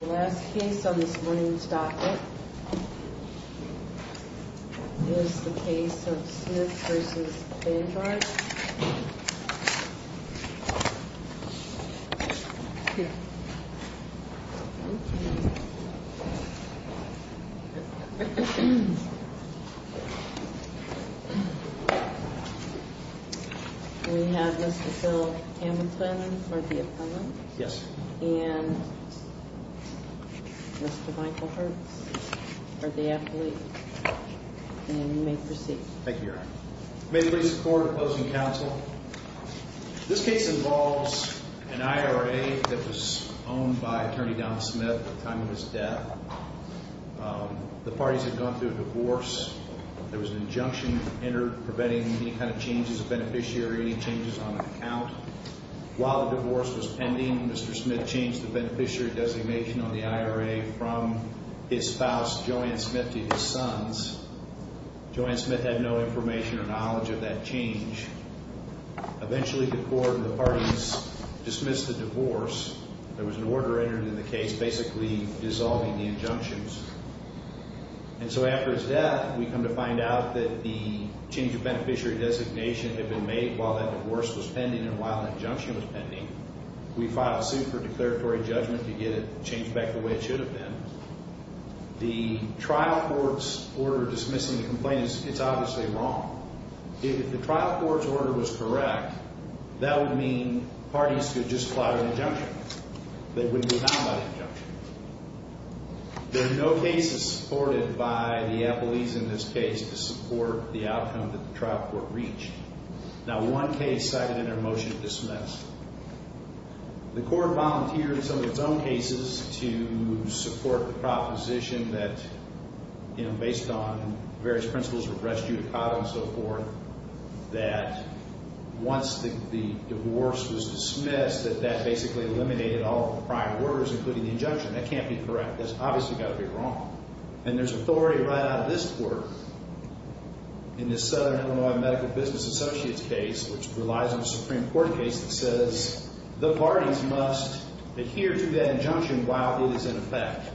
The last case on this morning's docket is the case of Smith v. Vanguard. We have Mr. Phil Hamilton for the appendix, and Mr. Michael Hertz for the affiliate, and you may proceed. Thank you, Your Honor. I may please record opposing counsel. This case involves an IRA that was owned by Attorney Don Smith at the time of his death. The parties had gone through a divorce. There was an injunction entered preventing any kind of changes of beneficiary or any changes on an account. While the divorce was pending, Mr. Smith changed the beneficiary designation on the IRA from his spouse, Joanne Smith, to his sons. Joanne Smith had no information or knowledge of that change. Eventually, the court and the parties dismissed the divorce. There was an order entered in the case basically dissolving the injunctions. And so after his death, we come to find out that the change of beneficiary designation had been made while that divorce was pending and while the injunction was pending. We filed a suit for declaratory judgment to get it changed back the way it should have been. The trial court's order dismissing the complaint is obviously wrong. If the trial court's order was correct, that would mean parties could just file an injunction. They wouldn't be bound by the injunction. There are no cases supported by the appellees in this case to support the outcome that the trial court reached. Not one case cited in our motion to dismiss. The court volunteered in some of its own cases to support the proposition that, you know, based on various principles of res judicata and so forth, that once the divorce was dismissed, that that basically eliminated all of the prior orders, including the injunction. That can't be correct. That's obviously got to be wrong. And there's authority right out of this court in this Southern Illinois Medical Business Associates case, which relies on a Supreme Court case that says the parties must adhere to that injunction while it is in effect.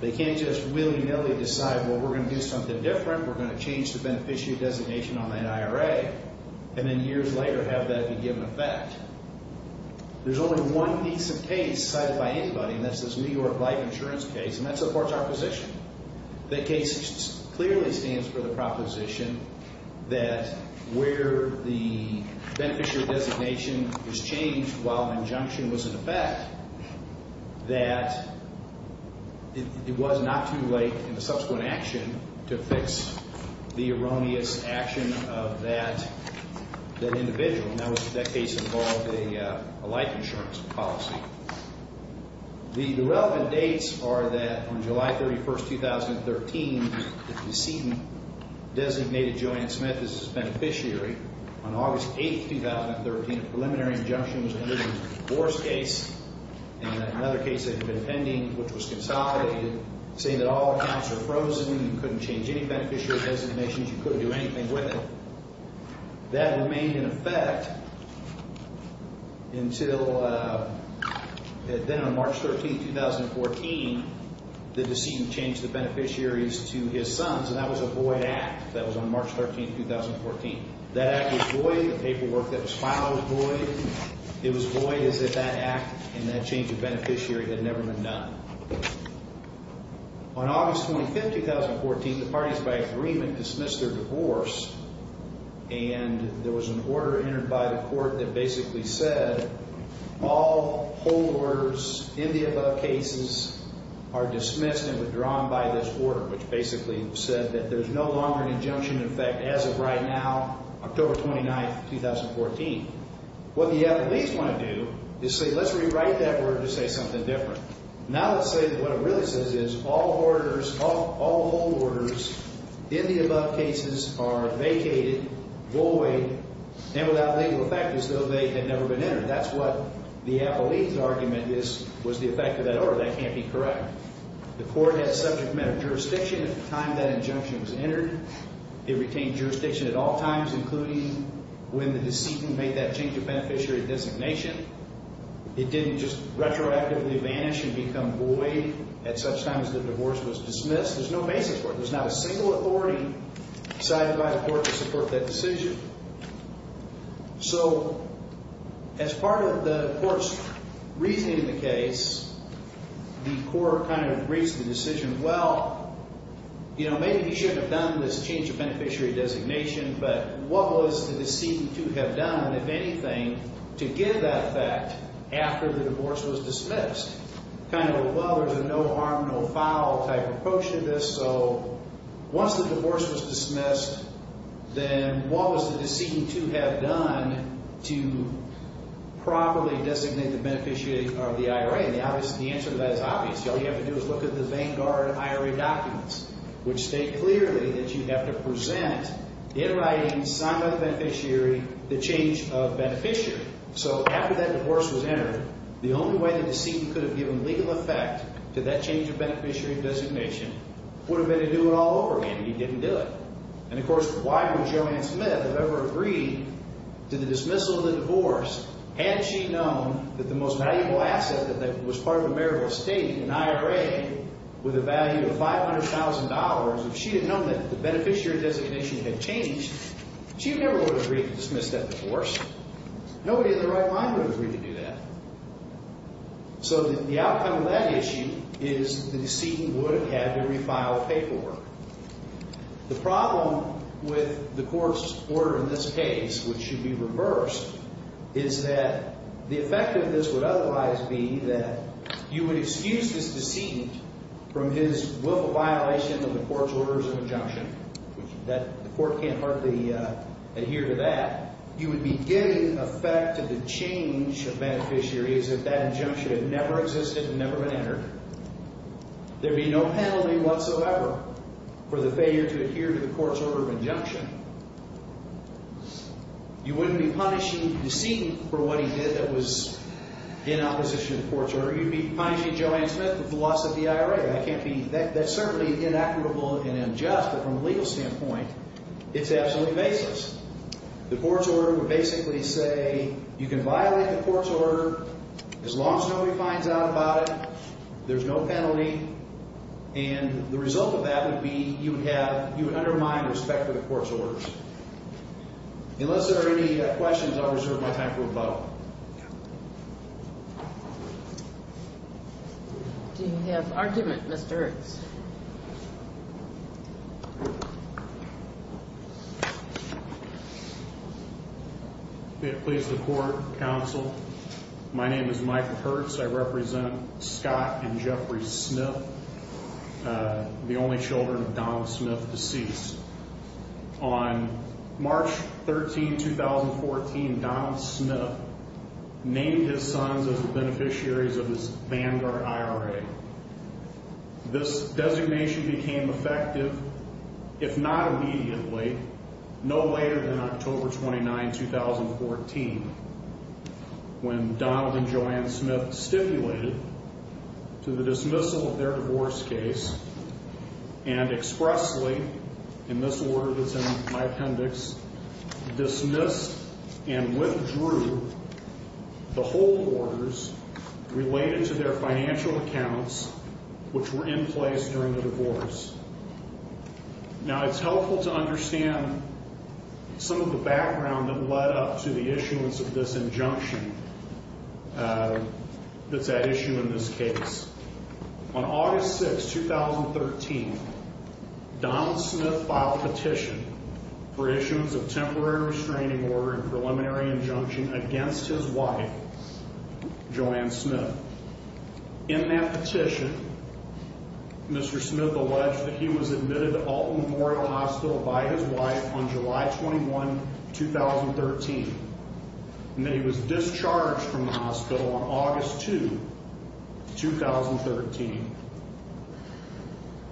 They can't just willy-nilly decide, well, we're going to do something different. We're going to change the beneficiary designation on that IRA and then years later have that be given effect. There's only one piece of case cited by anybody, and that's this New York Life Insurance case, and that supports our position. That case clearly stands for the proposition that where the beneficiary designation is changed while injunction was in effect, that it was not too late in the subsequent action to fix the erroneous action of that individual. And that case involved a life insurance policy. The relevant dates are that on July 31, 2013, the decedent designated Joanna Smith as his beneficiary. On August 8, 2013, a preliminary injunction was entered in the divorce case, and another case that had been pending, which was consolidated, saying that all accounts are frozen, you couldn't change any beneficiary designations, you couldn't do anything with it. That remained in effect until then on March 13, 2014, the decedent changed the beneficiaries to his sons, and that was a void act. That was on March 13, 2014. That act was void. The paperwork that was filed was void. It was void as if that act and that change of beneficiary had never been done. On August 25, 2014, the parties by agreement dismissed their divorce, and there was an order entered by the court that basically said all hold orders in the above cases are dismissed and withdrawn by this order, which basically said that there's no longer an injunction in effect as of right now, October 29, 2014. What the attorneys want to do is say, let's rewrite that order to say something different. Now let's say that what it really says is all hold orders in the above cases are vacated, void, and without legal effect as though they had never been entered. That's what the appellee's argument was the effect of that order. That can't be correct. The court had subject matter jurisdiction at the time that injunction was entered. It retained jurisdiction at all times, including when the decedent made that change of beneficiary designation. It didn't just retroactively vanish and become void at such times the divorce was dismissed. There's no basis for it. There's not a single authority decided by the court to support that decision. So as part of the court's reasoning of the case, the court kind of briefs the decision, well, maybe he shouldn't have done this change of beneficiary designation, but what was the after the divorce was dismissed? Kind of a well, there's a no harm, no foul type approach to this. So once the divorce was dismissed, then what was the decedent to have done to properly designate the beneficiary of the IRA? And the answer to that is obvious. All you have to do is look at the Vanguard IRA documents, which state clearly that you have to present in writing, signed by the beneficiary, the change of beneficiary. So after that divorce was entered, the only way the decedent could have given legal effect to that change of beneficiary designation would have been to do it all over again. He didn't do it. And of course, why would Joanne Smith have ever agreed to the dismissal of the divorce had she known that the most valuable asset that was part of a marital estate, an IRA, with a value of $500,000, if she had known that the beneficiary designation had changed, she never would have agreed to dismiss that divorce. Nobody in their right mind would agree to do that. So the outcome of that issue is the decedent would have had to refile paperwork. The problem with the court's order in this case, which should be reversed, is that the effect of this would otherwise be that you would excuse this decedent from his willful violation of the court's orders of injunction. The court can't hardly adhere to that. You would be giving effect to the change of beneficiary as if that injunction had never existed and never been entered. There would be no penalty whatsoever for the failure to adhere to the court's order of injunction. You wouldn't be punishing the decedent for what he did that was in opposition to the court's order. You'd be punishing Joanne Smith for the loss of the IRA. That's certainly inequitable and unjust, but from a legal standpoint, it's absolutely baseless. The court's order would basically say you can violate the court's order as long as nobody finds out about it, there's no penalty, and the result of that would be you would undermine respect for the court's orders. Unless there are any questions, I'll reserve my time for rebuttal. Do you have argument, Mr. Hurts? May it please the court, counsel. My name is Michael Hurts. I represent Scott and Jeffrey Smith, the only children of Donald Smith deceased. On March 13, 2014, Donald Smith named his sons as the beneficiaries of his Vanguard IRA. This designation became effective, if not immediately, no later than October 29, 2014, when Donald and Joanne Smith stipulated to the dismissal of their divorce case and expressly, in this order that's in my appendix, dismissed and withdrew the hold orders related to their financial accounts which were in place during the divorce. Now, it's helpful to understand some of the background that led up to the issuance of this injunction that's at issue in this case. On August 6, 2013, Donald Smith filed petition for issuance of temporary restraining order and preliminary injunction against his wife, Joanne Smith. In that petition, Mr. Smith alleged that he was admitted to Alton Memorial Hospital by his wife on July 21, 2013, and that he was discharged from the hospital on August 2, 2013.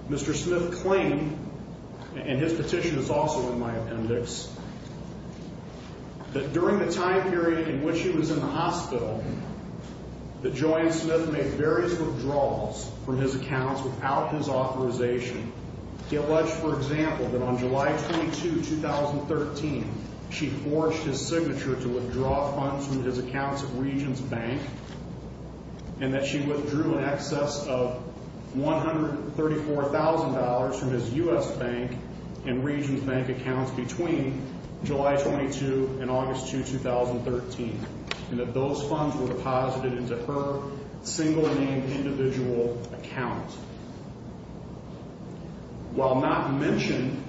Mr. Smith claimed, and his petition is also in my appendix, that during the time period in which he was in the hospital, that Joanne Smith made various withdrawals from his accounts without his authorization. He alleged, for example, that on July 22, 2013, she forged his signature to withdraw funds from his accounts at Regions Bank, and that she withdrew in excess of $134,000 from his U.S. Bank and Regions Bank accounts between July 22 and August 2, 2013, and that those funds were deposited into her single-name individual account. While not mentioned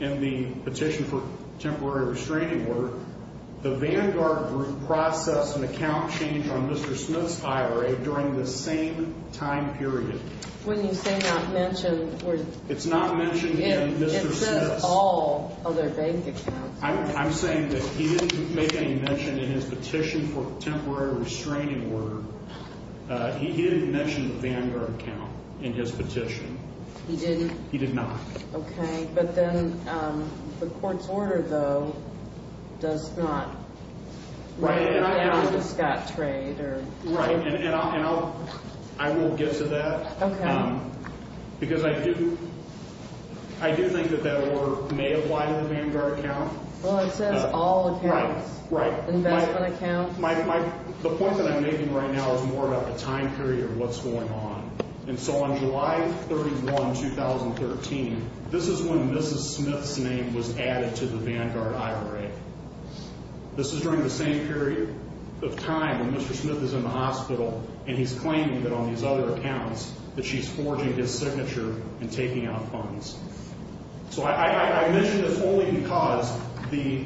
in the petition for temporary restraining order, the Vanguard Group processed an account change on Mr. Smith's IRA during this same time period. When you say not mentioned, where's... It's not mentioned in Mr. Smith's... It says all other bank accounts. I'm saying that he didn't make any mention in his petition for temporary restraining order. He didn't mention the Vanguard account in his petition. He didn't? He did not. Okay, but then the court's order, though, does not write down the Scott trade or... Right, and I will get to that. Okay. Because I do think that that order may apply to the Vanguard account. Well, it says all accounts. Right, right. Investment accounts. The point that I'm making right now is more about the time period of what's going on. And so on July 31, 2013, this is when Mrs. Smith's name was added to the Vanguard IRA. This is during the same period of time when Mr. Smith is in the hospital, and he's claiming that on these other accounts that she's forging his signature and taking out funds. So I mention this only because the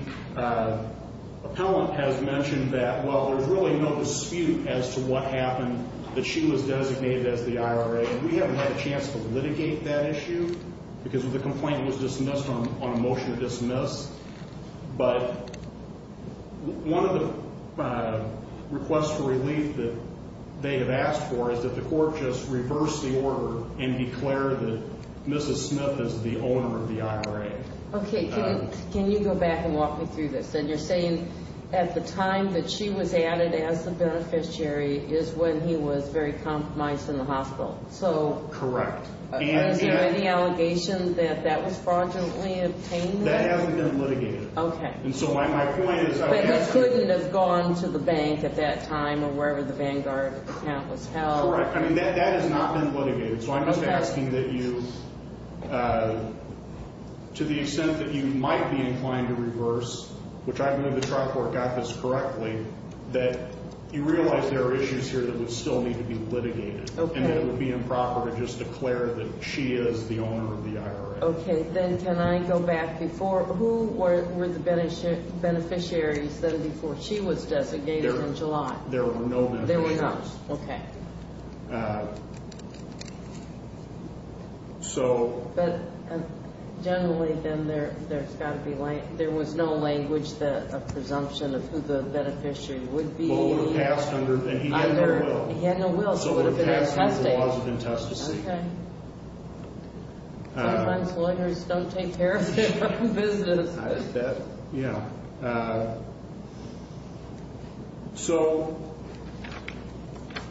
appellant has mentioned that, well, there's really no dispute as to what happened, that she was designated as the IRA, and we haven't had a chance to litigate that issue because the complaint was dismissed on a motion to dismiss. But one of the requests for relief that they have asked for is that the court just reverse the order and declare that Mrs. Smith is the owner of the IRA. Okay. Can you go back and walk me through this? And you're saying at the time that she was added as the beneficiary is when he was very compromised in the hospital. Correct. Is there any allegation that that was fraudulently obtained? That hasn't been litigated. Okay. And so my point is I'm asking. But he couldn't have gone to the bank at that time or wherever the Vanguard account was held. Correct. I mean, that has not been litigated. So I'm just asking that you, to the extent that you might be inclined to reverse, which I believe the trial court got this correctly, that you realize there are issues here that would still need to be litigated. Okay. And that it would be improper to just declare that she is the owner of the IRA. Okay. Then can I go back before? Who were the beneficiaries then before she was designated in July? There were no beneficiaries. There were no. Okay. So. But generally then there's got to be, there was no language, a presumption of who the beneficiary would be. Well, it would have passed under, and he had no will. He had no will. So it would have passed under the laws of intestacy. Okay. Sometimes lawyers don't take care of their own business. I bet. Yeah. So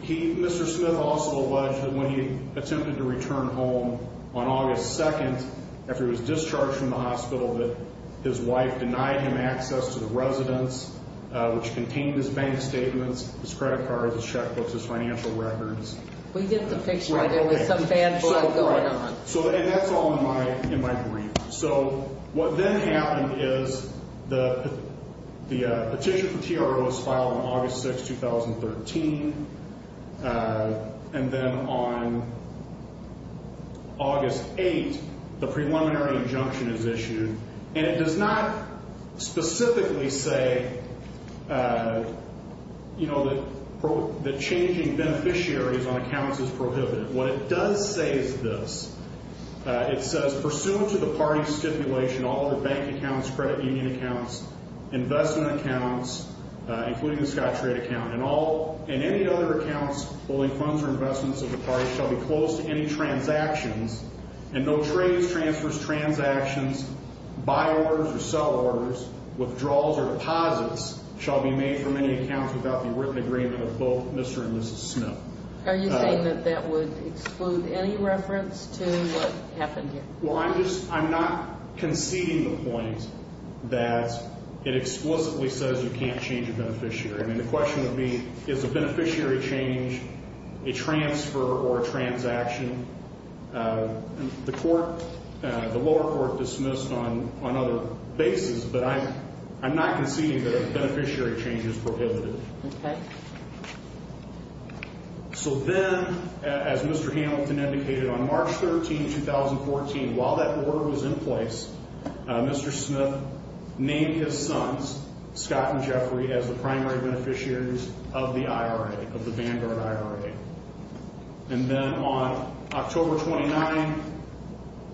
Mr. Smith also alleged that when he attempted to return home on August 2nd, after he was discharged from the hospital, that his wife denied him access to the residence, which contained his bank statements, his credit cards, his checkbooks, his financial records. We get the picture there was some bad blood going on. And that's all in my brief. So what then happened is the petition for TRO was filed on August 6th, 2013. And then on August 8th, the preliminary injunction is issued. And it does not specifically say, you know, that changing beneficiaries on accounts is prohibited. What it does say is this. It says, pursuant to the party's stipulation, all other bank accounts, credit union accounts, investment accounts, including the Scottrade account, and any other accounts holding funds or investments of the party shall be closed to any transactions, and no trades, transfers, transactions, buy orders or sell orders, withdrawals or deposits shall be made from any accounts without the written agreement of both Mr. and Mrs. Smith. Are you saying that that would exclude any reference to what happened here? Well, I'm not conceding the point that it explicitly says you can't change a beneficiary. I mean, the question would be, is a beneficiary change a transfer or a transaction? The lower court dismissed on other bases, but I'm not conceding that a beneficiary change is prohibited. Okay. So then, as Mr. Hamilton indicated, on March 13th, 2014, while that order was in place, Mr. Smith named his sons, Scott and Jeffrey, as the primary beneficiaries of the IRA, of the Vanguard IRA. And then on October 29th,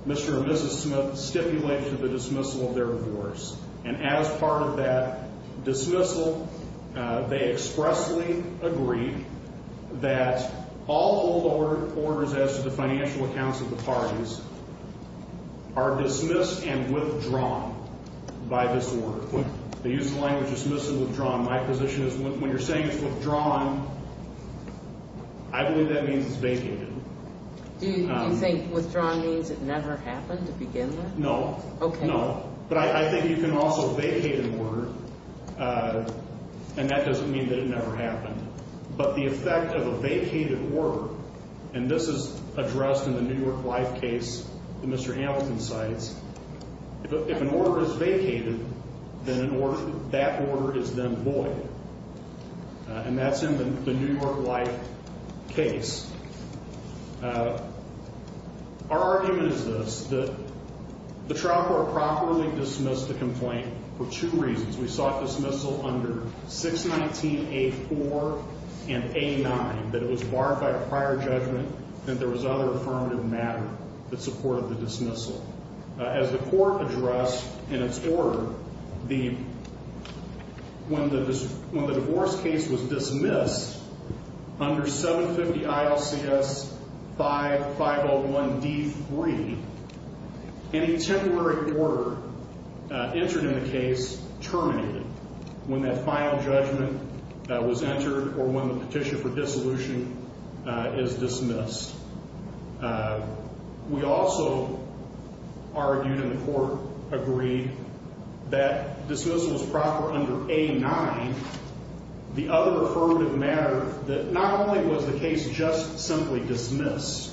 Mr. and Mrs. Smith stipulated the dismissal of their divorce, and as part of that dismissal, they expressly agreed that all old orders as to the financial accounts of the parties are dismissed and withdrawn by this order. When they use the language dismissal and withdrawn, my position is when you're saying it's withdrawn, I believe that means it's vacated. Do you think withdrawn means it never happened to begin with? No. Okay. No. But I think you can also vacate an order, and that doesn't mean that it never happened. But the effect of a vacated order, and this is addressed in the New York Life case that Mr. Hamilton cites, if an order is vacated, then that order is then void. And that's in the New York Life case. Our argument is this, that the trial court properly dismissed the complaint for two reasons. We sought dismissal under 619A4 and A9, that it was barred by prior judgment that there was other affirmative matter that supported the dismissal. As the court addressed in its order, when the divorce case was dismissed under 750 ILCS 501D3, any temporary order entered in the case terminated when that final judgment was entered or when the petition for dissolution is dismissed. We also argued and the court agreed that dismissal was proper under A9, the other affirmative matter that not only was the case just simply dismissed,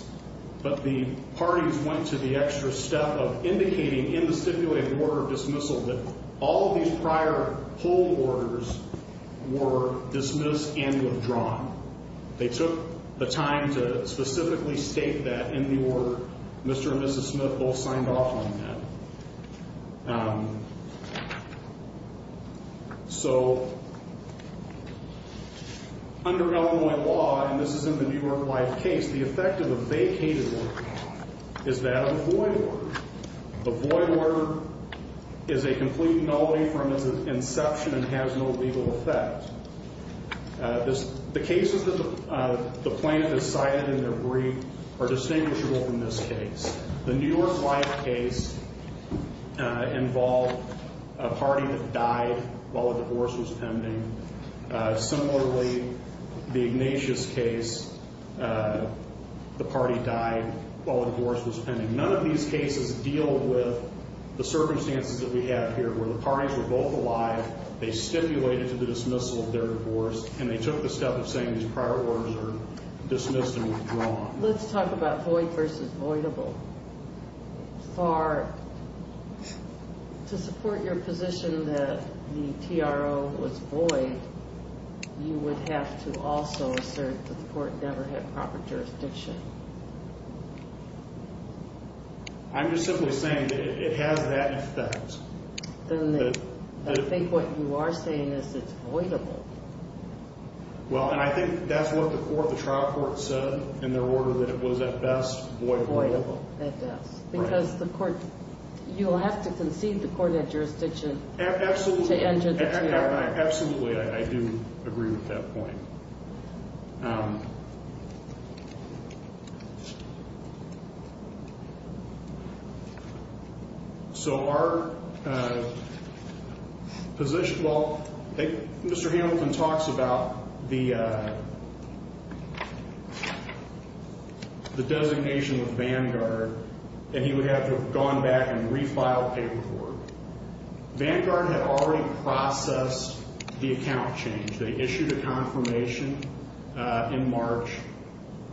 but the parties went to the extra step of indicating in the stipulated order for dismissal that all of these prior hold orders were dismissed and withdrawn. They took the time to specifically state that in the order Mr. and Mrs. Smith both signed off on that. So under Illinois law, and this is in the New York Life case, the effect of a vacated order is that of a void order. A void order is a complete nullity from its inception and has no legal effect. The cases that the plaintiff has cited in their brief are distinguishable from this case. The New York Life case involved a party that died while a divorce was pending. Similarly, the Ignatius case, the party died while a divorce was pending. And none of these cases deal with the circumstances that we have here where the parties were both alive, they stipulated to the dismissal of their divorce, and they took the step of saying these prior orders are dismissed and withdrawn. Let's talk about void versus voidable. To support your position that the TRO was void, you would have to also assert that the court never had proper jurisdiction. I'm just simply saying that it has that effect. I think what you are saying is it's voidable. Well, and I think that's what the trial court said in their order, that it was at best voidable. Voidable, at best. Because you'll have to concede the court had jurisdiction to enter the TRO. Absolutely, I do agree with that point. So our position, well, Mr. Hamilton talks about the designation of Vanguard, and he would have to have gone back and refiled paperwork. Vanguard had already processed the account change. They issued a confirmation in March.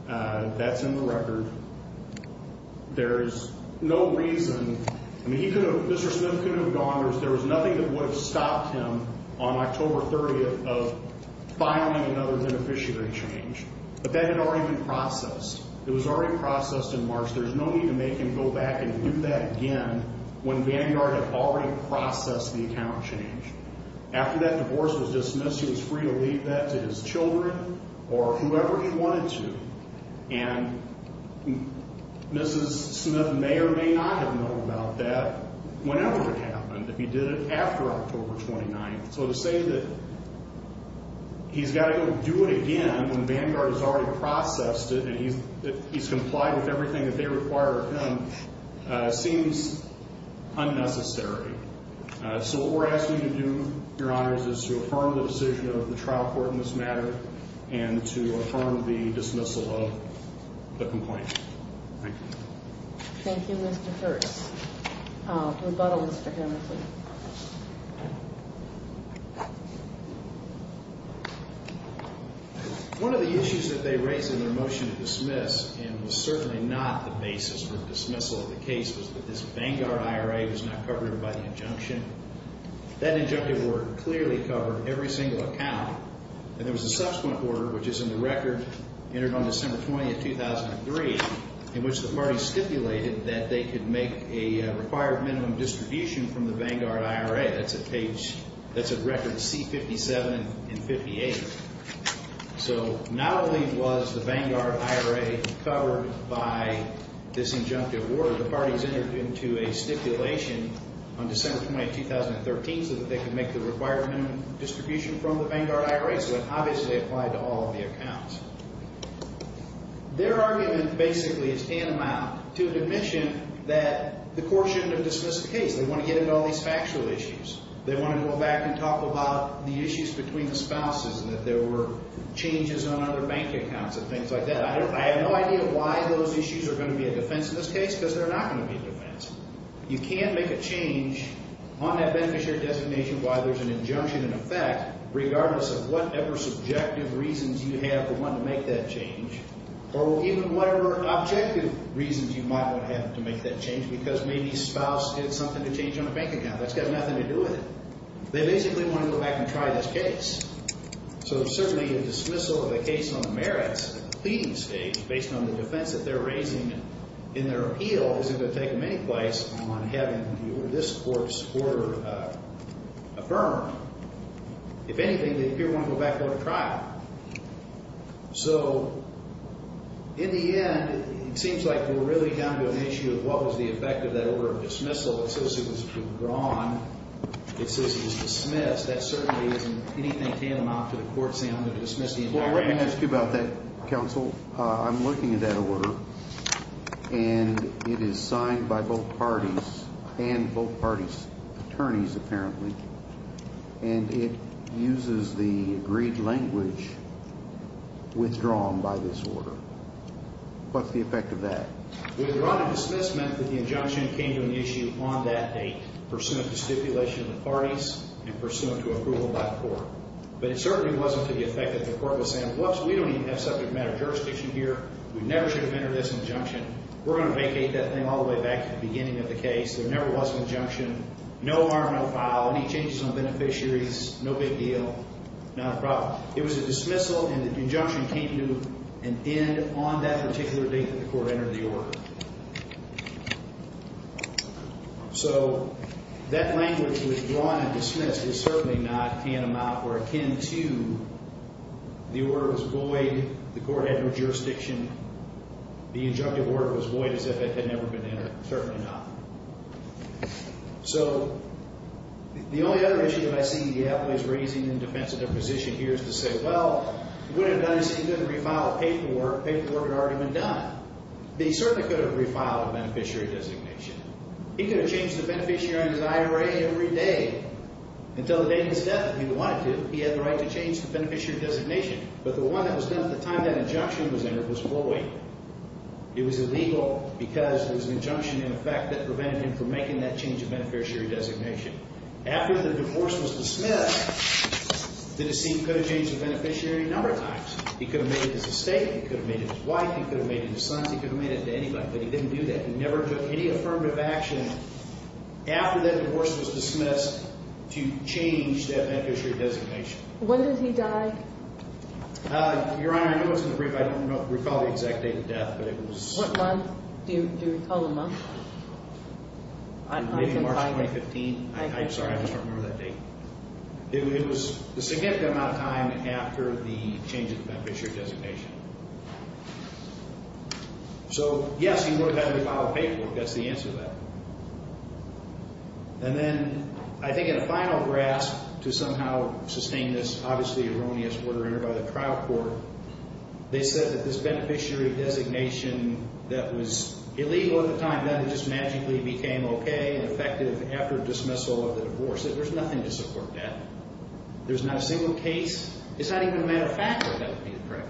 That's in the record. There's no reason. I mean, Mr. Smith couldn't have gone. There was nothing that would have stopped him on October 30th of filing another beneficiary change. But that had already been processed. It was already processed in March. There's no need to make him go back and do that again when Vanguard had already processed the account change. After that divorce was dismissed, he was free to leave that to his children or whoever he wanted to. And Mrs. Smith may or may not have known about that whenever it happened, if he did it after October 29th. So to say that he's got to go do it again when Vanguard has already processed it and he's complied with everything that they require of him seems unnecessary. So what we're asking you to do, Your Honors, is to affirm the decision of the trial court in this matter and to affirm the dismissal of the complaint. Thank you. Thank you, Mr. Hurst. Rebuttal, Mr. Hamilton. One of the issues that they raised in their motion to dismiss, and was certainly not the basis for the dismissal of the case, was that this Vanguard IRA was not covered by the injunction. That injunctive order clearly covered every single account. And there was a subsequent order, which is in the record, entered on December 20th, 2003, in which the parties stipulated that they could make a required minimum distribution from the Vanguard IRA That's a record C-57 and 58. So not only was the Vanguard IRA covered by this injunctive order, the parties entered into a stipulation on December 20th, 2013, so that they could make the required minimum distribution from the Vanguard IRA. So it obviously applied to all of the accounts. Their argument basically is tantamount to an admission that the court shouldn't have dismissed the case. They want to get into all these factual issues. They want to go back and talk about the issues between the spouses, and that there were changes on other bank accounts and things like that. I have no idea why those issues are going to be a defense in this case, because they're not going to be a defense. You can make a change on that beneficiary designation while there's an injunction in effect, regardless of whatever subjective reasons you have for wanting to make that change, or even whatever objective reasons you might want to have to make that change, because maybe spouse did something to change on a bank account. That's got nothing to do with it. They basically want to go back and try this case. So certainly a dismissal of the case on the merits of the pleading stage, based on the defense that they're raising in their appeal, isn't going to take them any place on having this court's order affirmed. If anything, they appear to want to go back and go to trial. So in the end, it seems like we're really down to an issue of what was the effect of that order of dismissal. It says it was withdrawn. It says it was dismissed. That certainly isn't anything tantamount to the court saying I'm going to dismiss the entire case. Well, let me ask you about that, counsel. I'm looking at that order, and it is signed by both parties, and both parties' attorneys, apparently. And it uses the agreed language withdrawn by this order. What's the effect of that? Withdrawn and dismissed meant that the injunction came to an issue on that date, pursuant to stipulation of the parties and pursuant to approval by the court. But it certainly wasn't to the effect that the court was saying, whoops, we don't even have subject matter jurisdiction here. We never should have entered this injunction. We're going to vacate that thing all the way back to the beginning of the case. There never was an injunction. No harm, no foul, any changes on beneficiaries, no big deal, not a problem. It was a dismissal, and the injunction came to an end on that particular date that the court entered the order. So that language, withdrawn and dismissed, is certainly not tantamount or akin to the order was void, the court had no jurisdiction, the injunctive order was void as if it had never been entered. Certainly not. So the only other issue that I see the attorneys raising in defense of their position here is to say, well, if he would have done this, he could have refiled paperwork. Paperwork had already been done. He certainly could have refiled a beneficiary designation. He could have changed the beneficiary on his IRA every day until the day of his death if he wanted to. He had the right to change the beneficiary designation. But the one that was done at the time that injunction was entered was void. It was illegal because there was an injunction in effect that prevented him from making that change of beneficiary designation. After the divorce was dismissed, the deceit could have changed the beneficiary a number of times. He could have made it his estate. He could have made it his wife. He could have made it his sons. He could have made it to anybody, but he didn't do that. He never took any affirmative action after that divorce was dismissed to change that beneficiary designation. When did he die? Your Honor, I know it's in the brief. I don't recall the exact date of death, but it was— What month? Do you recall the month? Maybe March 2015. I'm sorry. I just don't remember that date. It was a significant amount of time after the change of the beneficiary designation. So, yes, he would have had to refile paperwork. That's the answer to that. And then I think in a final grasp to somehow sustain this obviously erroneous order entered by the trial court, they said that this beneficiary designation that was illegal at the time, then it just magically became okay and effective after dismissal of the divorce. There's nothing to support that. There's not a single case. It's not even a matter of fact that that would be the correct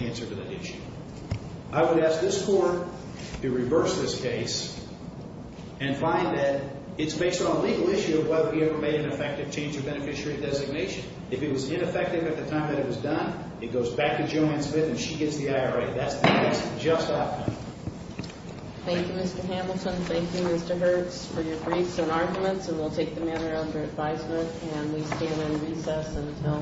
answer to that issue. I would ask this court to reverse this case and find that it's based on a legal issue of whether we ever made an effective change of beneficiary designation. If it was ineffective at the time that it was done, it goes back to Joanne Smith and she gets the IRA. That's the case. Just that. Thank you, Mr. Hamilton. Thank you, Mr. Hertz, for your briefs and arguments, and we'll take the matter under advisement. And we stand in recess until 1 o'clock. All right. Thank you.